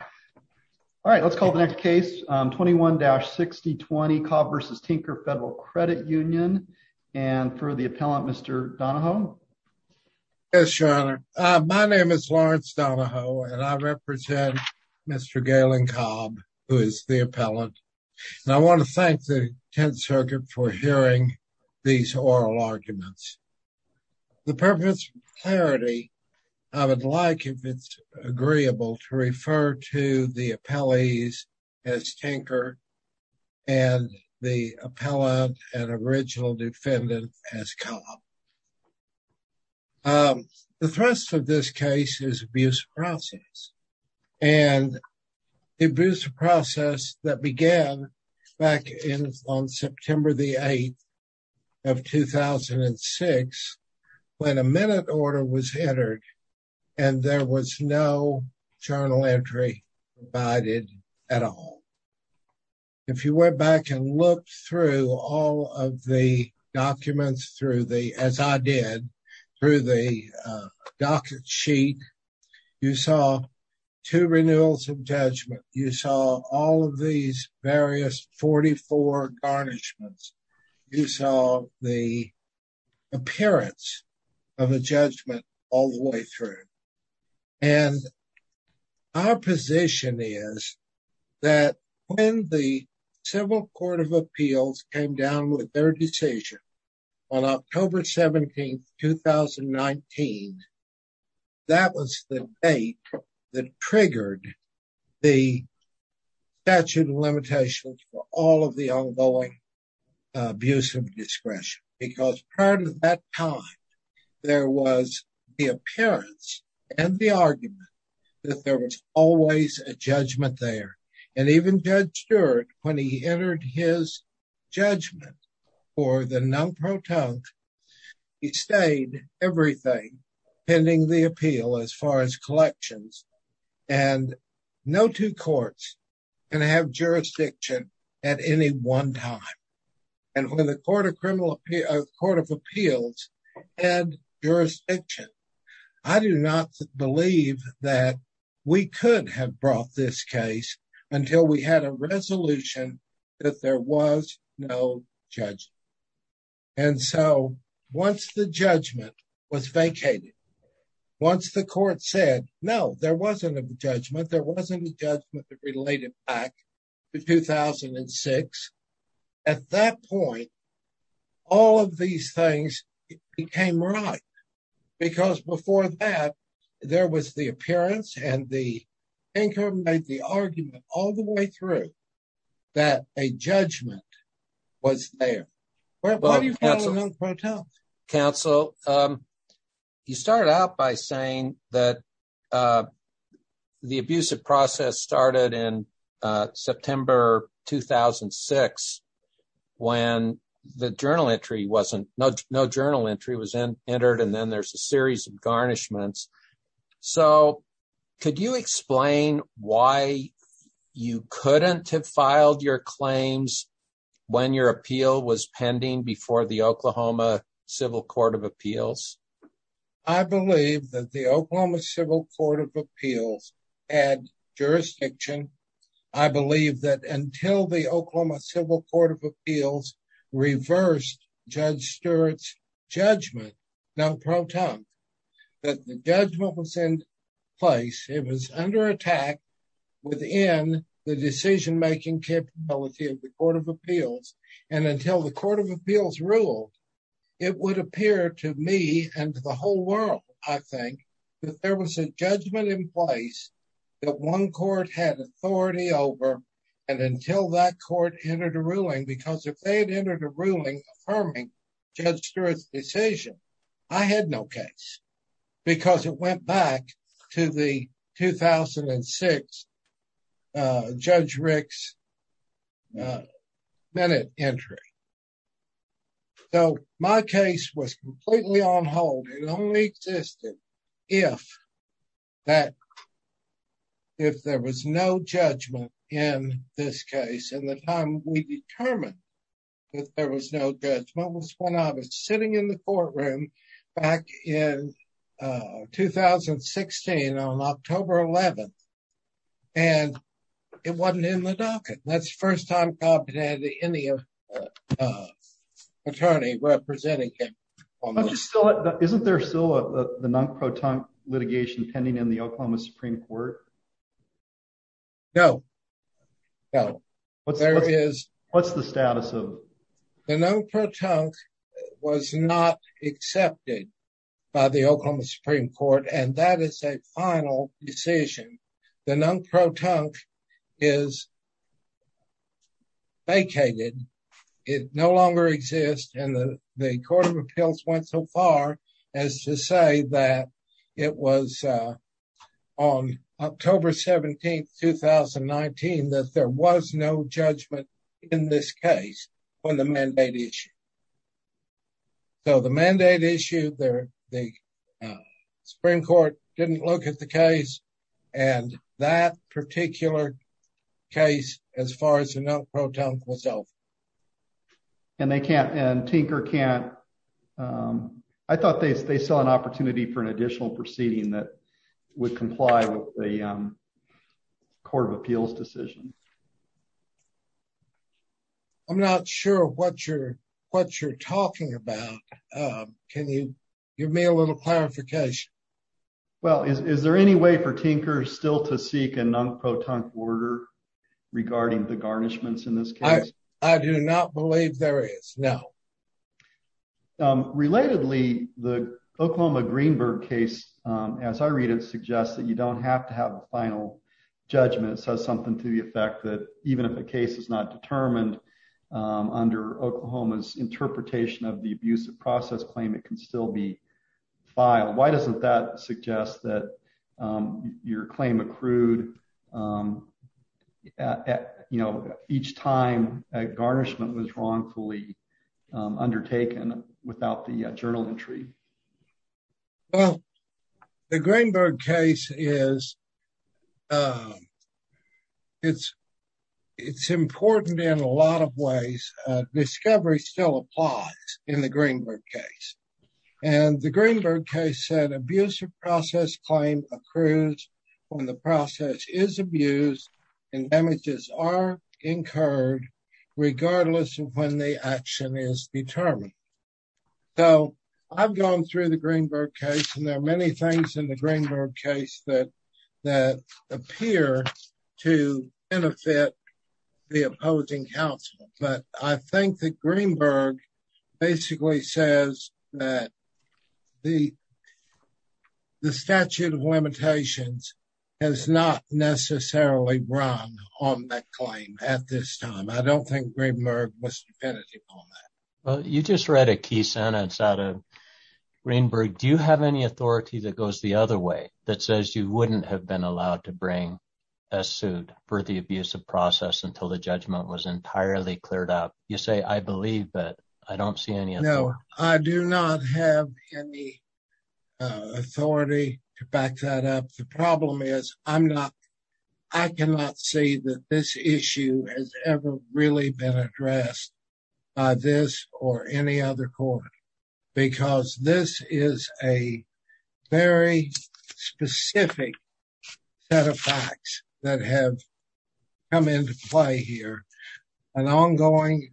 All right, let's call the next case. 21-6020 Cobb v. Tinker Federal Credit Union. And for the appellant, Mr. Donahoe. Yes, Your Honor. My name is Lawrence Donahoe, and I represent Mr. Galen Cobb, who is the appellant. And I want to thank the Tenth Circuit for hearing these oral arguments. For the purpose of clarity, I would like, if it's agreeable, to refer to the appellees as Tinker and the appellant and original defendant as Cobb. The thrust of this case is abuse of process. And abuse of process that began back on September the 8th of 2006 when a minute order was entered and there was no journal entry provided at all. If you went back and looked through all of the documents, as I did, through the docket sheet, you saw two renewals of judgment. You saw all of these various 44 garnishments. You saw the appearance of a judgment all the way through. And our position is that when the Civil Court of Appeals came down with their decision on October 17, 2019, that was the date that triggered the statute of limitations for all of the ongoing abuse of discretion. Because prior to that time, there was the appearance and the argument that there was always a judgment there. And even Judge Stewart, when he entered his judgment for the non-protont, he stayed everything pending the appeal as far as collections. And no two courts can have jurisdiction at any one time. And when the Court of Appeals had jurisdiction, I do not believe that we could have brought this case until we had a resolution that there was no judgment. And so, once the judgment was vacated, once the court said, no, there wasn't a judgment, there wasn't a judgment related back to 2006, at that point, all of these things became right. Because before that, there was the appearance and the anchor made the argument all the way through that a judgment was there. Counsel, you started out by saying that the abusive process started in September 2006, when no journal entry was entered, and then there's a series of garnishments. So, could you explain why you couldn't have filed your claims when your appeal was pending before the Oklahoma Civil Court of Appeals? I believe that the Oklahoma Civil Court of Appeals had jurisdiction. I believe that until the Oklahoma Civil Court of Appeals reversed Judge Stewart's judgment, non-protont, that the judgment was in place, it was under attack within the decision-making capability of the Court of Appeals. And until the Court of Appeals ruled, it would appear to me and to the whole world, I think, that there was a judgment in place that one court had authority over, and until that court entered a ruling, because if they had entered a ruling affirming Judge Stewart's decision, I had no case. Because it went back to the 2006 Judge Rick's minute entry. So, my case was completely on hold. It only existed if there was no judgment in this case. And the time we determined that there was no judgment was when I was sitting in the courtroom back in 2016 on October 11th, and it wasn't in the docket. That's the first time I've had any attorney representing him. Isn't there still the non-protont litigation pending in the Oklahoma Supreme Court? No. What's the status of it? The non-protont was not accepted by the Oklahoma Supreme Court, and that is a final decision. The non-protont is vacated. It no longer exists, and the Court of Appeals went so far as to say that it was on October 17th, 2019, that there was no judgment in this case on the mandate issue. So, the mandate issue there, the Supreme Court didn't look at the case, and that particular case, as far as the non-proton, was over. And they can't, and Tinker can't, I thought they saw an opportunity for an additional proceeding that would comply with the Court of Appeals decision. I'm not sure what you're talking about. Can you give me a little clarification? Well, is there any way for Tinker still to seek a non-proton order regarding the arnishments in this case? I do not believe there is, no. Relatedly, the Oklahoma Greenberg case, as I read it, suggests that you don't have to have a final judgment. It says something to the effect that even if a case is not determined under Oklahoma's interpretation of the abusive process claim, it can still be each time a garnishment was wrongfully undertaken without the journal entry. Well, the Greenberg case is important in a lot of ways. Discovery still applies in the Greenberg case. And the Greenberg case said abusive process claim occurs when the process is abused and damages are incurred regardless of when the action is determined. So, I've gone through the Greenberg case, and there are many things in the Greenberg case that appear to benefit the opposing counsel. But I think that Greenberg basically says that the statute of limitations has not necessarily run on that claim at this time. I don't think Greenberg was definitive on that. Well, you just read a key sentence out of Greenberg. Do you have any authority that goes the other way that says you wouldn't have been allowed to bring a suit for the abusive process until the judgment was entirely cleared up? You say, I believe, but I don't see any. No, I do not have any authority to back that up. The problem is I cannot say that this issue has ever really been addressed by this or any other court, because this is a very specific set of facts that have come into play here. An ongoing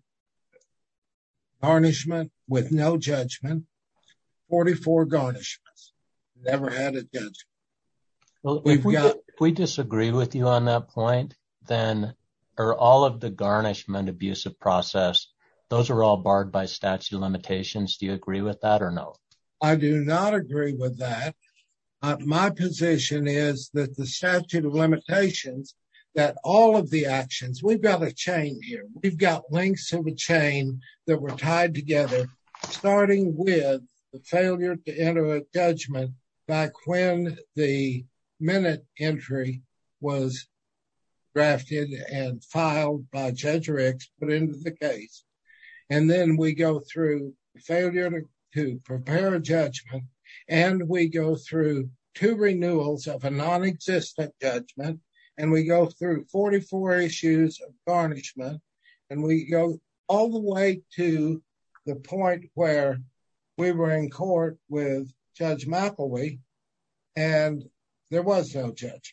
garnishment with no judgment, 44 garnishments, never had a judgment. Well, if we disagree with you on that point, then all of the garnishment, abusive process, those are all barred by statute of limitations. Do you agree with that or no? I do not agree with that. My position is that the statute of limitations, that all of the actions, we've got a chain here. We've got links in the chain that were tied together, starting with the failure to enter a judgment back when the minute entry was drafted and filed by Judge Ricks put into the case. Then we go through failure to prepare a judgment. We go through two renewals of a non-existent judgment. We go through 44 issues of garnishment. We go all the way to the point where we were in court with Judge McElwee and there was no judgment.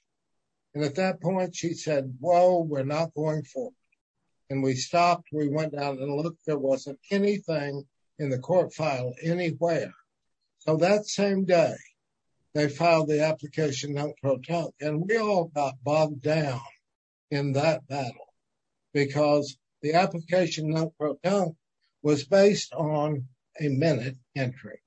At that point, she said, whoa, we're not going forward. We stopped. We went down and looked. There wasn't anything in the court file anywhere. That same day, they filed the application non-proton. We all got bogged down in that battle because the application non-proton was based on a minute entry.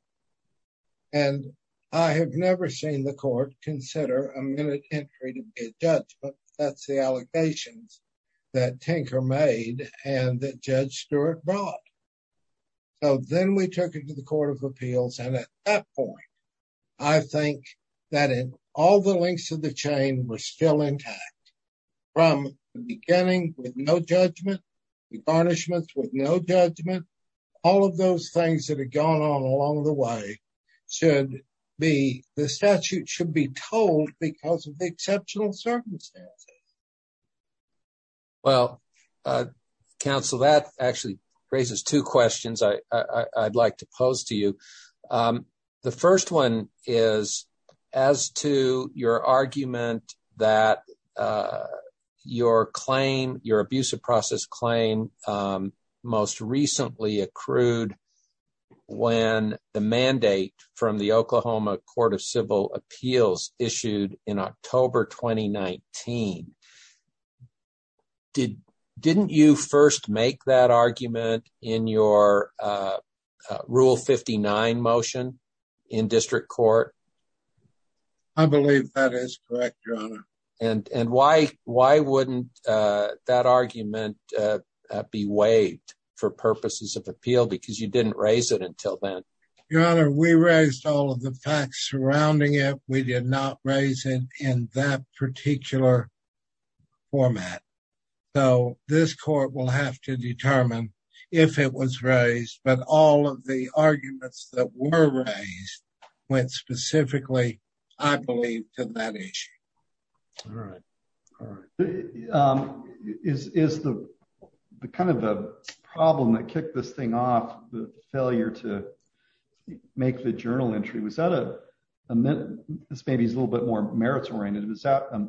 I have never seen the court consider a minute entry to be a judgment. That's the allegations that Tinker made and that Judge Stewart brought. Then we took it to the Court of Appeals. At that point, I think that all the links of the chain were still intact. From the beginning with no judgment, the garnishments with no judgment, all of those things that had gone on along the way, the statute should be told because of the exceptional circumstances. Well, counsel, that actually raises two questions I'd like to pose to you. The first one is as to your argument that your abuse of process claim most recently accrued when the mandate from the Oklahoma Court of Civil Appeals issued in October 2019. Didn't you first make that argument in your Rule 59 motion in district court? I believe that is correct, Your Honor. Why wouldn't that argument be waived for purposes of appeal because you didn't raise it until then? Your Honor, we raised all of the facts surrounding it. We did not raise it in that particular format. This court will have to determine if it was raised, but all of the arguments that were raised went specifically, I believe, to that issue. All right. All right. Is the problem that kicked this thing off, the failure to make the journal entry, this maybe is a little bit more merits oriented, was that a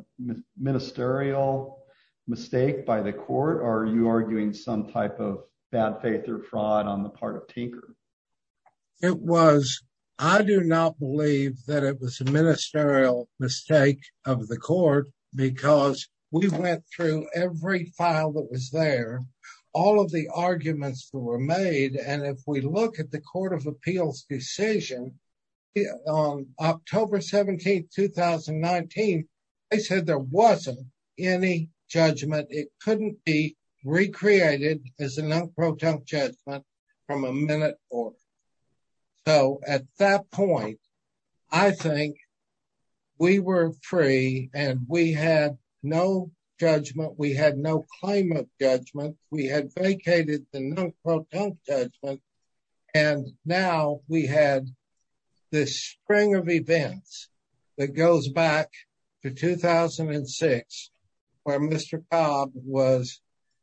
ministerial mistake by the court or are you arguing some type of bad faith or fraud on the part of Tinker? It was. I do not believe that it was a ministerial mistake of the court because we went through every file that was there, all of the arguments that were made, and if we look at the Court of Appeals decision on October 17, 2019, they said there wasn't any judgment. It couldn't be recreated as a non-protunct judgment from a minute or so. At that point, I think we were free and we had no judgment. We had no claim of judgment. We had Mr. Cobb.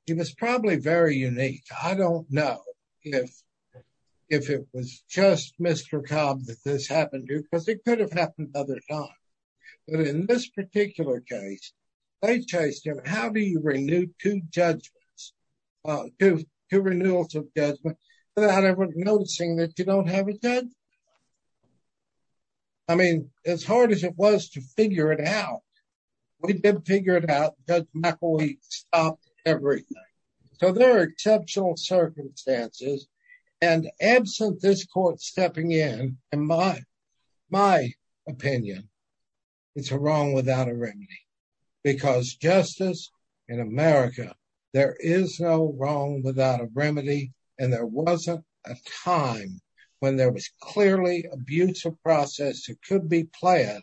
He was probably very unique. I don't know if it was just Mr. Cobb that this happened to because it could have happened other times. But in this particular case, they chased him. How do you renew two judgments, two renewals of judgment without everyone noticing that you don't have a judgment? As hard as it was to figure it out, we did figure it out. Judge McElwee stopped everything. There are exceptional circumstances. Absent this court stepping in, in my opinion, it's a wrong without a remedy because justice in America, there is no wrong without a remedy and there wasn't a time when there was clearly abuse of process that could be planned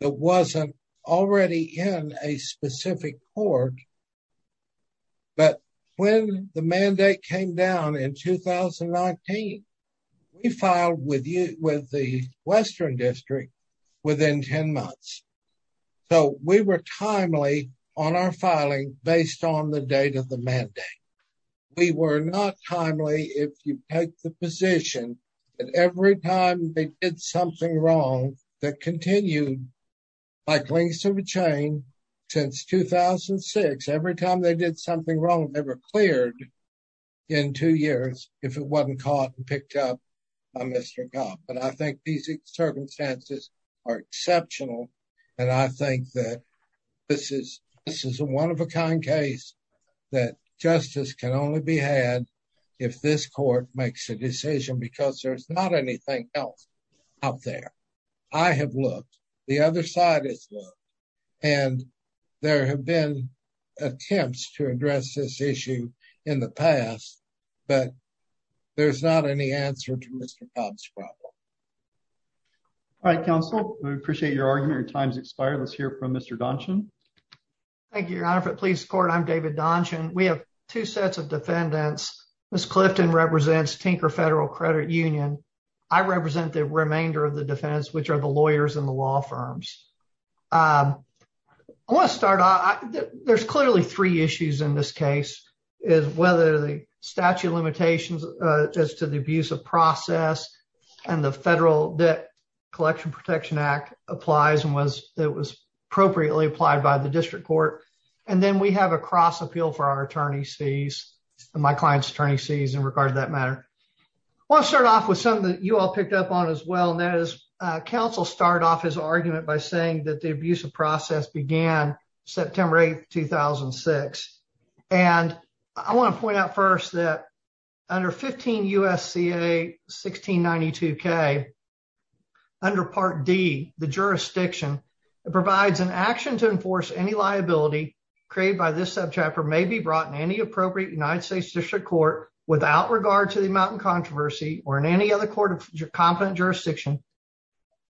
that wasn't already in a specific court. But when the mandate came down in 2019, we filed with the Western District within 10 months. So, we were timely on our filing based on the date of the mandate. We were not timely if you take the position that every time they did something wrong that continued like links of a chain since 2006. Every time they did something wrong, they were cleared in two years if it wasn't caught and picked up by Mr. Cobb. But I think these that justice can only be had if this court makes a decision because there's not anything else out there. I have looked. The other side has looked. And there have been attempts to address this issue in the past, but there's not any answer to Mr. Cobb's problem. All right, counsel. We appreciate your argument. Your time has expired. Let's hear from Mr. Donchin. Thank you, Your Honor. For Police Court, I'm David Donchin. We have two sets of defendants. Ms. Clifton represents Tinker Federal Credit Union. I represent the remainder of the defendants, which are the lawyers and the law firms. I want to start off. There's clearly three issues in this case is whether the statute of limitations as to the abuse of process and the Federal Debt Collection Protection Act applies and was that was appropriately applied by the district court. And then we have a cross appeal for our attorney's fees, my client's attorney's fees in regard to that matter. I want to start off with something that you all picked up on as well, and that is counsel start off his argument by saying that the abuse of process began September 8, 2006. And I want to point out first that under 15 U.S.C.A. 1692K, under Part D, the jurisdiction, it provides an action to enforce any liability created by this subchapter may be brought in any appropriate United States District Court without regard to the amount of controversy or in any other court of competent jurisdiction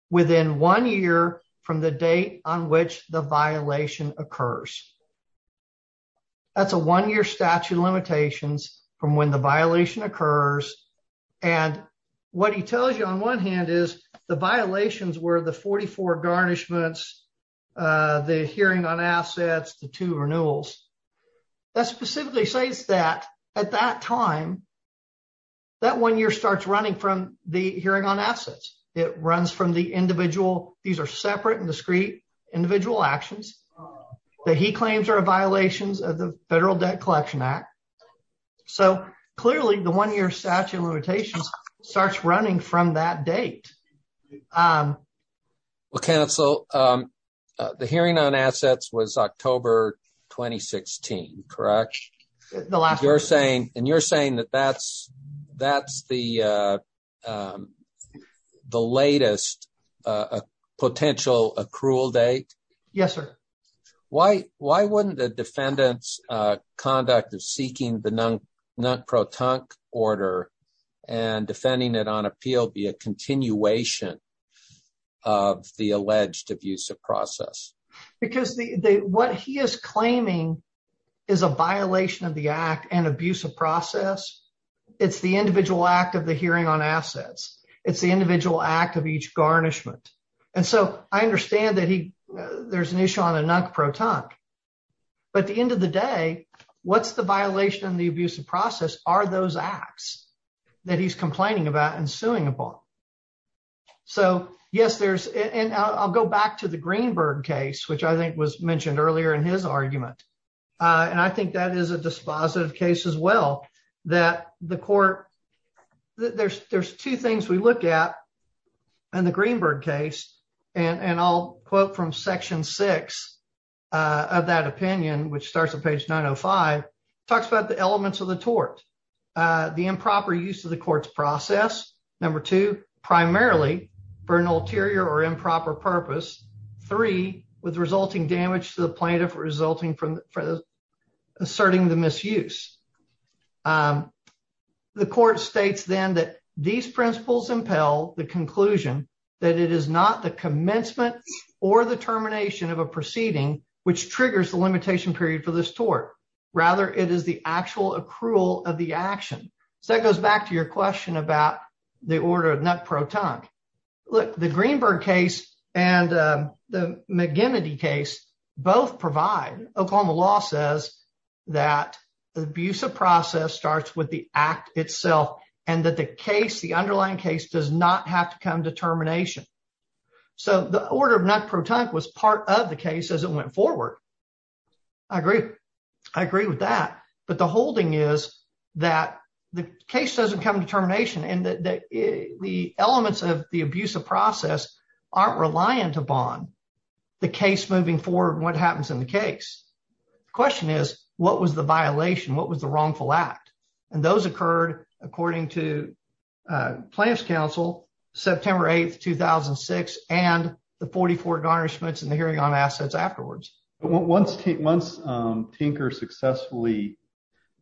within one year from the date on which the violation occurs. That's a one-year statute of limitations from when the violation occurs. And what he tells you on one hand is the violations were the 44 garnishments, the hearing on assets, the two renewals. That specifically says that at that time, that one year starts running from the hearing on assets. It runs from the individual, these are separate and discrete individual actions that he claims are violations of the Federal Debt Collection Act. So clearly the one year statute of limitations starts running from that date. Well, counsel, the hearing on assets was October 2016, correct? You're saying, and you're saying that that's the latest potential accrual date? Yes, sir. Why wouldn't the defendant's conduct of seeking the non-protunct order and defending it on appeal be a continuation of the alleged abusive process? Because what he is claiming is a violation of the act and abusive process. It's the individual act of the hearing on assets. It's the individual act of each garnishment. And so I understand that there's an issue on a non-protunct. But at the end of the day, what's the violation of the abusive process are those acts that he's complaining about and suing upon? So yes, there's, and I'll go back to the Greenberg case, which I think was mentioned earlier in his argument. And I think that is a dispositive case as well, that the court, there's two things we look at in the Greenberg case. And I'll quote from section six of that opinion, which starts at page 905, talks about the elements of the tort, the improper use of the process. Number two, primarily for an ulterior or improper purpose. Three, with resulting damage to the plaintiff, resulting from asserting the misuse. The court states then that these principles impel the conclusion that it is not the commencement or the termination of a proceeding, which triggers the limitation period for this tort. Rather, it is the actual accrual of the order of non-protunct. The Greenberg case and the McGinnity case both provide, Oklahoma law says that the abusive process starts with the act itself and that the underlying case does not have to come to termination. So the order of non-protunct was part of the case as it went to termination. And the elements of the abusive process aren't reliant upon the case moving forward and what happens in the case. The question is, what was the violation? What was the wrongful act? And those occurred according to Plaintiff's counsel, September 8th, 2006, and the 44 garnishments and the hearing on assets afterwards. Once Tinker successfully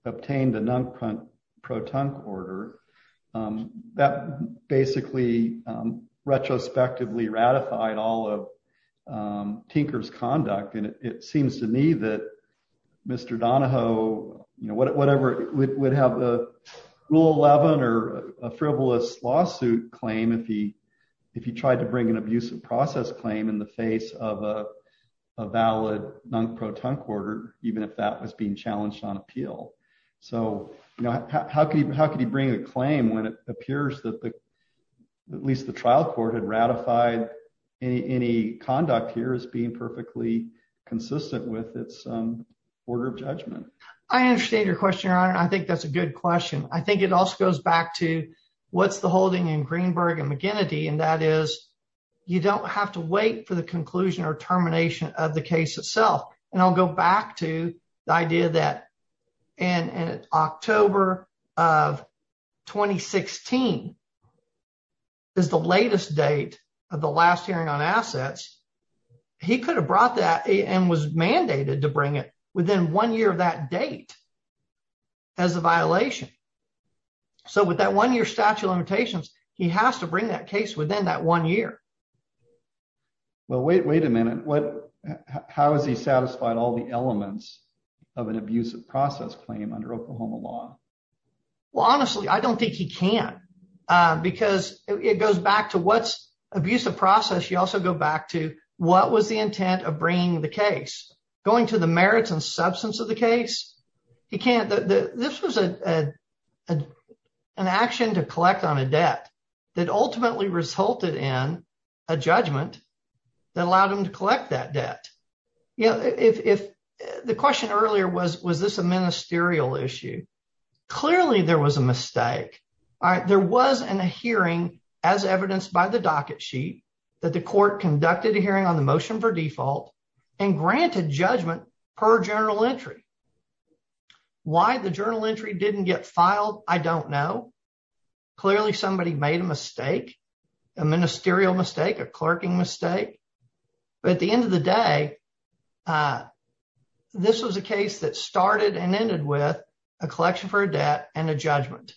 obtained the non-protunct order, that basically retrospectively ratified all of Tinker's conduct. And it seems to me that Mr. Donahoe, whatever, would have a Rule 11 or a frivolous lawsuit claim if he tried to bring an abusive process claim in the face of a valid non-protunct order, even if that was being abused. It appears that at least the trial court had ratified any conduct here as being perfectly consistent with its order of judgment. I understand your question, Your Honor, and I think that's a good question. I think it also goes back to what's the holding in Greenberg and McGinnity, and that is you don't have to wait for the conclusion or termination of the case itself. And I'll go back to the idea that in October of 2016 is the latest date of the last hearing on assets. He could have brought that and was mandated to bring it within one year of that date as a violation. So with that one-year statute of limitations, he has to bring that case within that one year. Well, wait a minute. How has he satisfied all the elements of an abusive process claim under Oklahoma law? Well, honestly, I don't think he can because it goes back to what's abusive process. You also go back to what was the intent of bringing the case. Going to the merits and substance of the case, he can't. This was an action to collect on a debt that ultimately resulted in a judgment that allowed him to collect that debt. You know, if the question earlier was, was this a ministerial issue? Clearly, there was a mistake. There was a hearing as evidenced by the docket sheet that the court conducted a hearing on the motion for default and granted judgment per journal entry. Why the journal entry didn't get filed, I don't know. Clearly, somebody made a mistake, a ministerial mistake, a clerking mistake. But at the end of the day, this was a case that started and ended with a collection for a debt and a judgment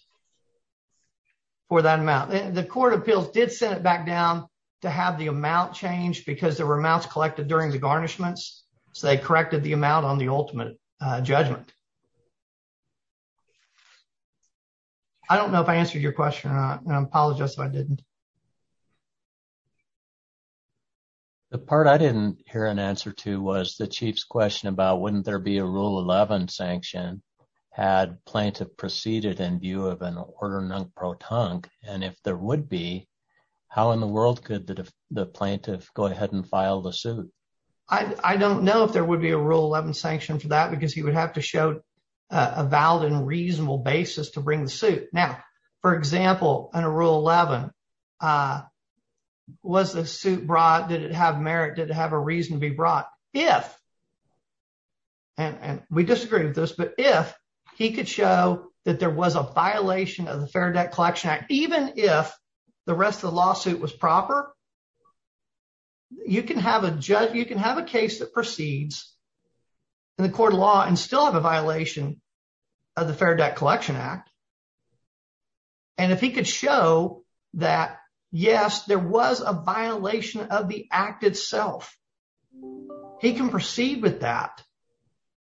for that amount. The court of appeals did send it back down to have the amount changed because there were amounts collected during the garnishments. So they corrected the your question. I apologize if I didn't. The part I didn't hear an answer to was the chief's question about wouldn't there be a rule 11 sanction had plaintiff proceeded in view of an order non-proton and if there would be, how in the world could the plaintiff go ahead and file the suit? I don't know if there would be a rule 11 sanction for that because he would have to show a valid and reasonable basis to bring the suit. Now, for example, in a rule 11, was the suit brought? Did it have merit? Did it have a reason to be brought? If, and we disagree with this, but if he could show that there was a violation of the Fair Debt Collection Act, even if the rest of the lawsuit was proper, you can have a judge, you can have a case that proceeds in the court of law and still have a violation of the Fair Debt Collection Act. And if he could show that, yes, there was a violation of the act itself, he can proceed with that.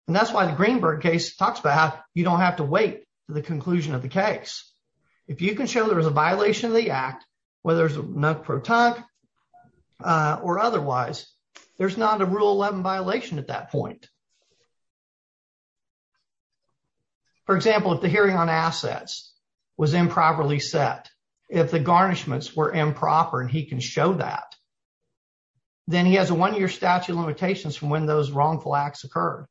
And that's why the Greenberg case talks about how you don't have to wait for the conclusion of the case. If you can show there was a violation of the act, whether it's non-proton or otherwise, there's not a rule 11 violation at that point. For example, if the hearing on assets was improperly set, if the garnishments were improper and he can show that, then he has a one-year statute of limitations from when those wrongful acts occurred.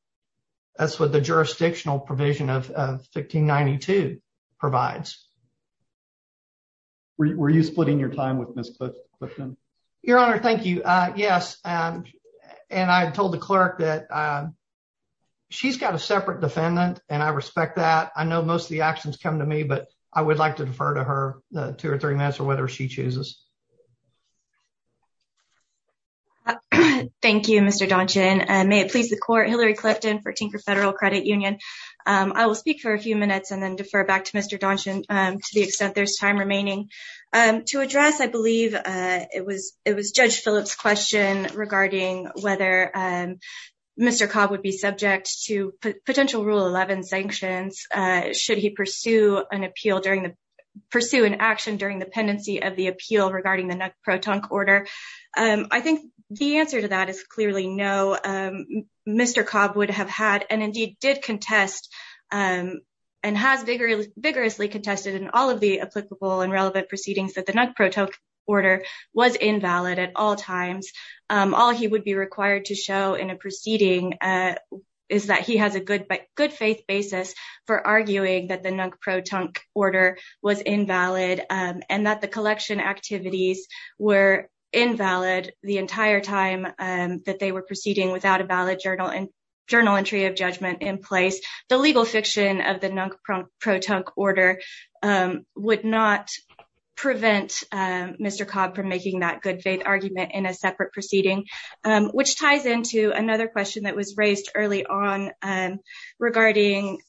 That's what the jurisdictional provision of 1592 provides. Were you splitting your time with Ms. Clifton? Your Honor, thank you. Yes. And I told the clerk that she's got a separate defendant and I respect that. I know most of the actions come to me, but I would like to defer to her two or three minutes for whether she chooses. Thank you, Mr. Daunchin. May it please the court, Hillary Clifton for Tinker Federal Credit Union. I will speak for a few minutes and then defer back to Mr. Daunchin to the extent there's time remaining. To address, I believe it was Judge Phillips' question regarding whether Mr. Cobb would be subject to potential rule 11 sanctions should he pursue an action during the pendency of the appeal regarding the non-proton order. I think the answer to that is clearly no. Mr. the non-proton order was invalid at all times. All he would be required to show in a proceeding is that he has a good faith basis for arguing that the non-proton order was invalid and that the collection activities were invalid the entire time that they were proceeding without a valid journal entry of judgment in place. The legal fiction of the non-proton order would not prevent Mr. Cobb from making that good faith argument in a separate proceeding, which ties into another question that was raised early on regarding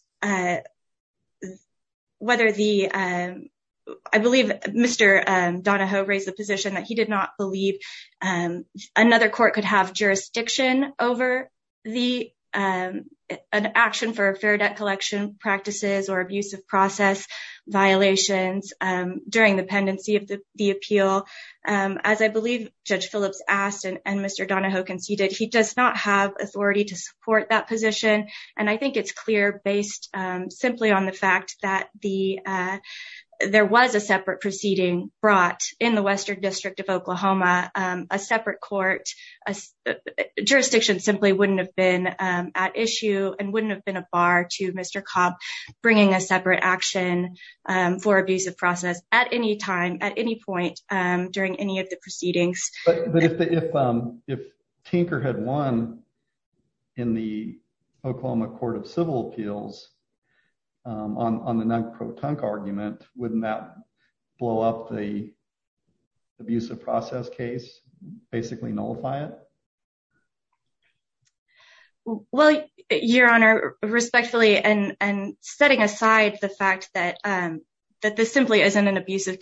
whether the, I believe, Mr. Donahoe raised the position that he did not believe another court could have jurisdiction over an action for a fair debt collection practices or abusive process violations during the pendency of the appeal. As I believe Judge Phillips asked and Mr. Donahoe conceded, he does not have authority to support that position. I think it's clear based simply on the fact that there was a separate proceeding brought in the Western District of Oklahoma, a separate court, a jurisdiction simply wouldn't have been at issue and wouldn't have been a bar to Mr. Cobb bringing a separate action for abusive process at any time, at any point during any of the proceedings. But if Tinker had won in the Oklahoma Court of Civil Appeals on the non-proton argument, wouldn't that blow up the abusive process case, basically nullify it? Well, Your Honor, respectfully, and setting aside the fact that this simply isn't an abusive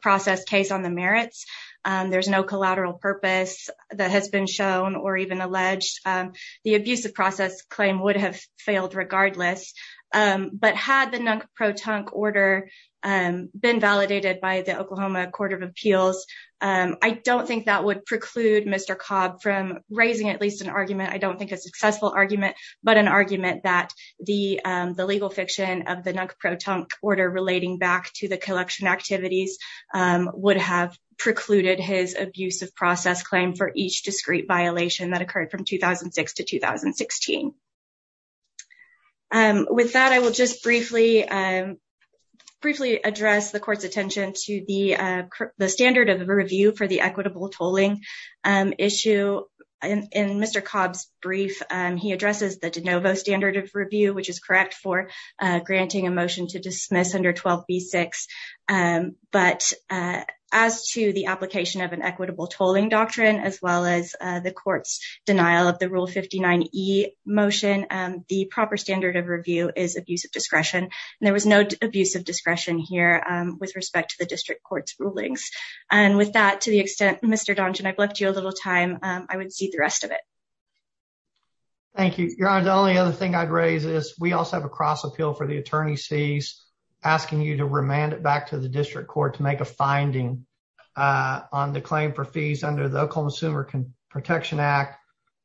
process case on the merits, there's no collateral purpose that has been shown or even alleged, the abusive process claim would have failed regardless. But had the non-proton order been validated by the Oklahoma Court of Appeals, I don't think that would preclude Mr. Cobb from raising at least an argument, I don't think a successful argument, but an argument that the legal fiction of the non-proton order relating back to the collection activities would have precluded his abusive process claim for each discrete violation that occurred from 2006 to 2016. With that, I will just briefly address the court's attention to the standard of review for the equitable tolling issue. In Mr. Cobb's brief, he addresses the de novo standard of review, which is correct for granting a motion to dismiss under 12b-6. But as to the application of an equitable tolling doctrine, as well as the court's denial of the Rule 59e motion, the proper standard of review is abusive discretion. And there was no abusive discretion here with respect to the district court's rulings. And with that, to the extent Mr. Donjan, I've left you a little time, I would cede the rest of it. Thank you, Your Honor. The only other thing I'd raise is we also have a cross appeal for the attorney's fees, asking you to remand it back to the district court to make a finding on the claim for fees under the Oklahoma Consumer Protection Act,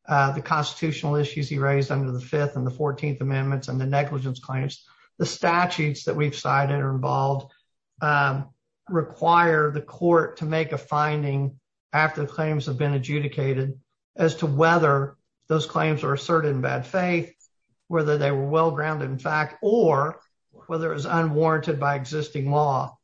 the constitutional issues he raised under the Fifth and the Fourteenth Amendments, and the negligence claims. The statutes that we've cited involved require the court to make a finding after the claims have been adjudicated as to whether those claims are asserted in bad faith, whether they were well-grounded in fact, or whether it was unwarranted by existing law.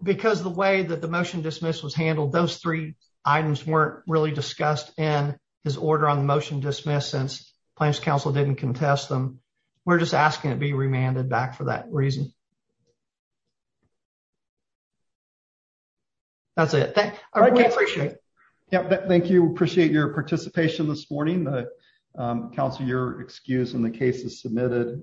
Because the way that the motion dismiss was handled, those three items weren't really discussed in his order on the motion dismissed since claims counsel didn't contest them. We're just asking it be remanded back for that reason. That's it. Thank you. We appreciate your participation this morning. Counselor, you're excused and the case is submitted.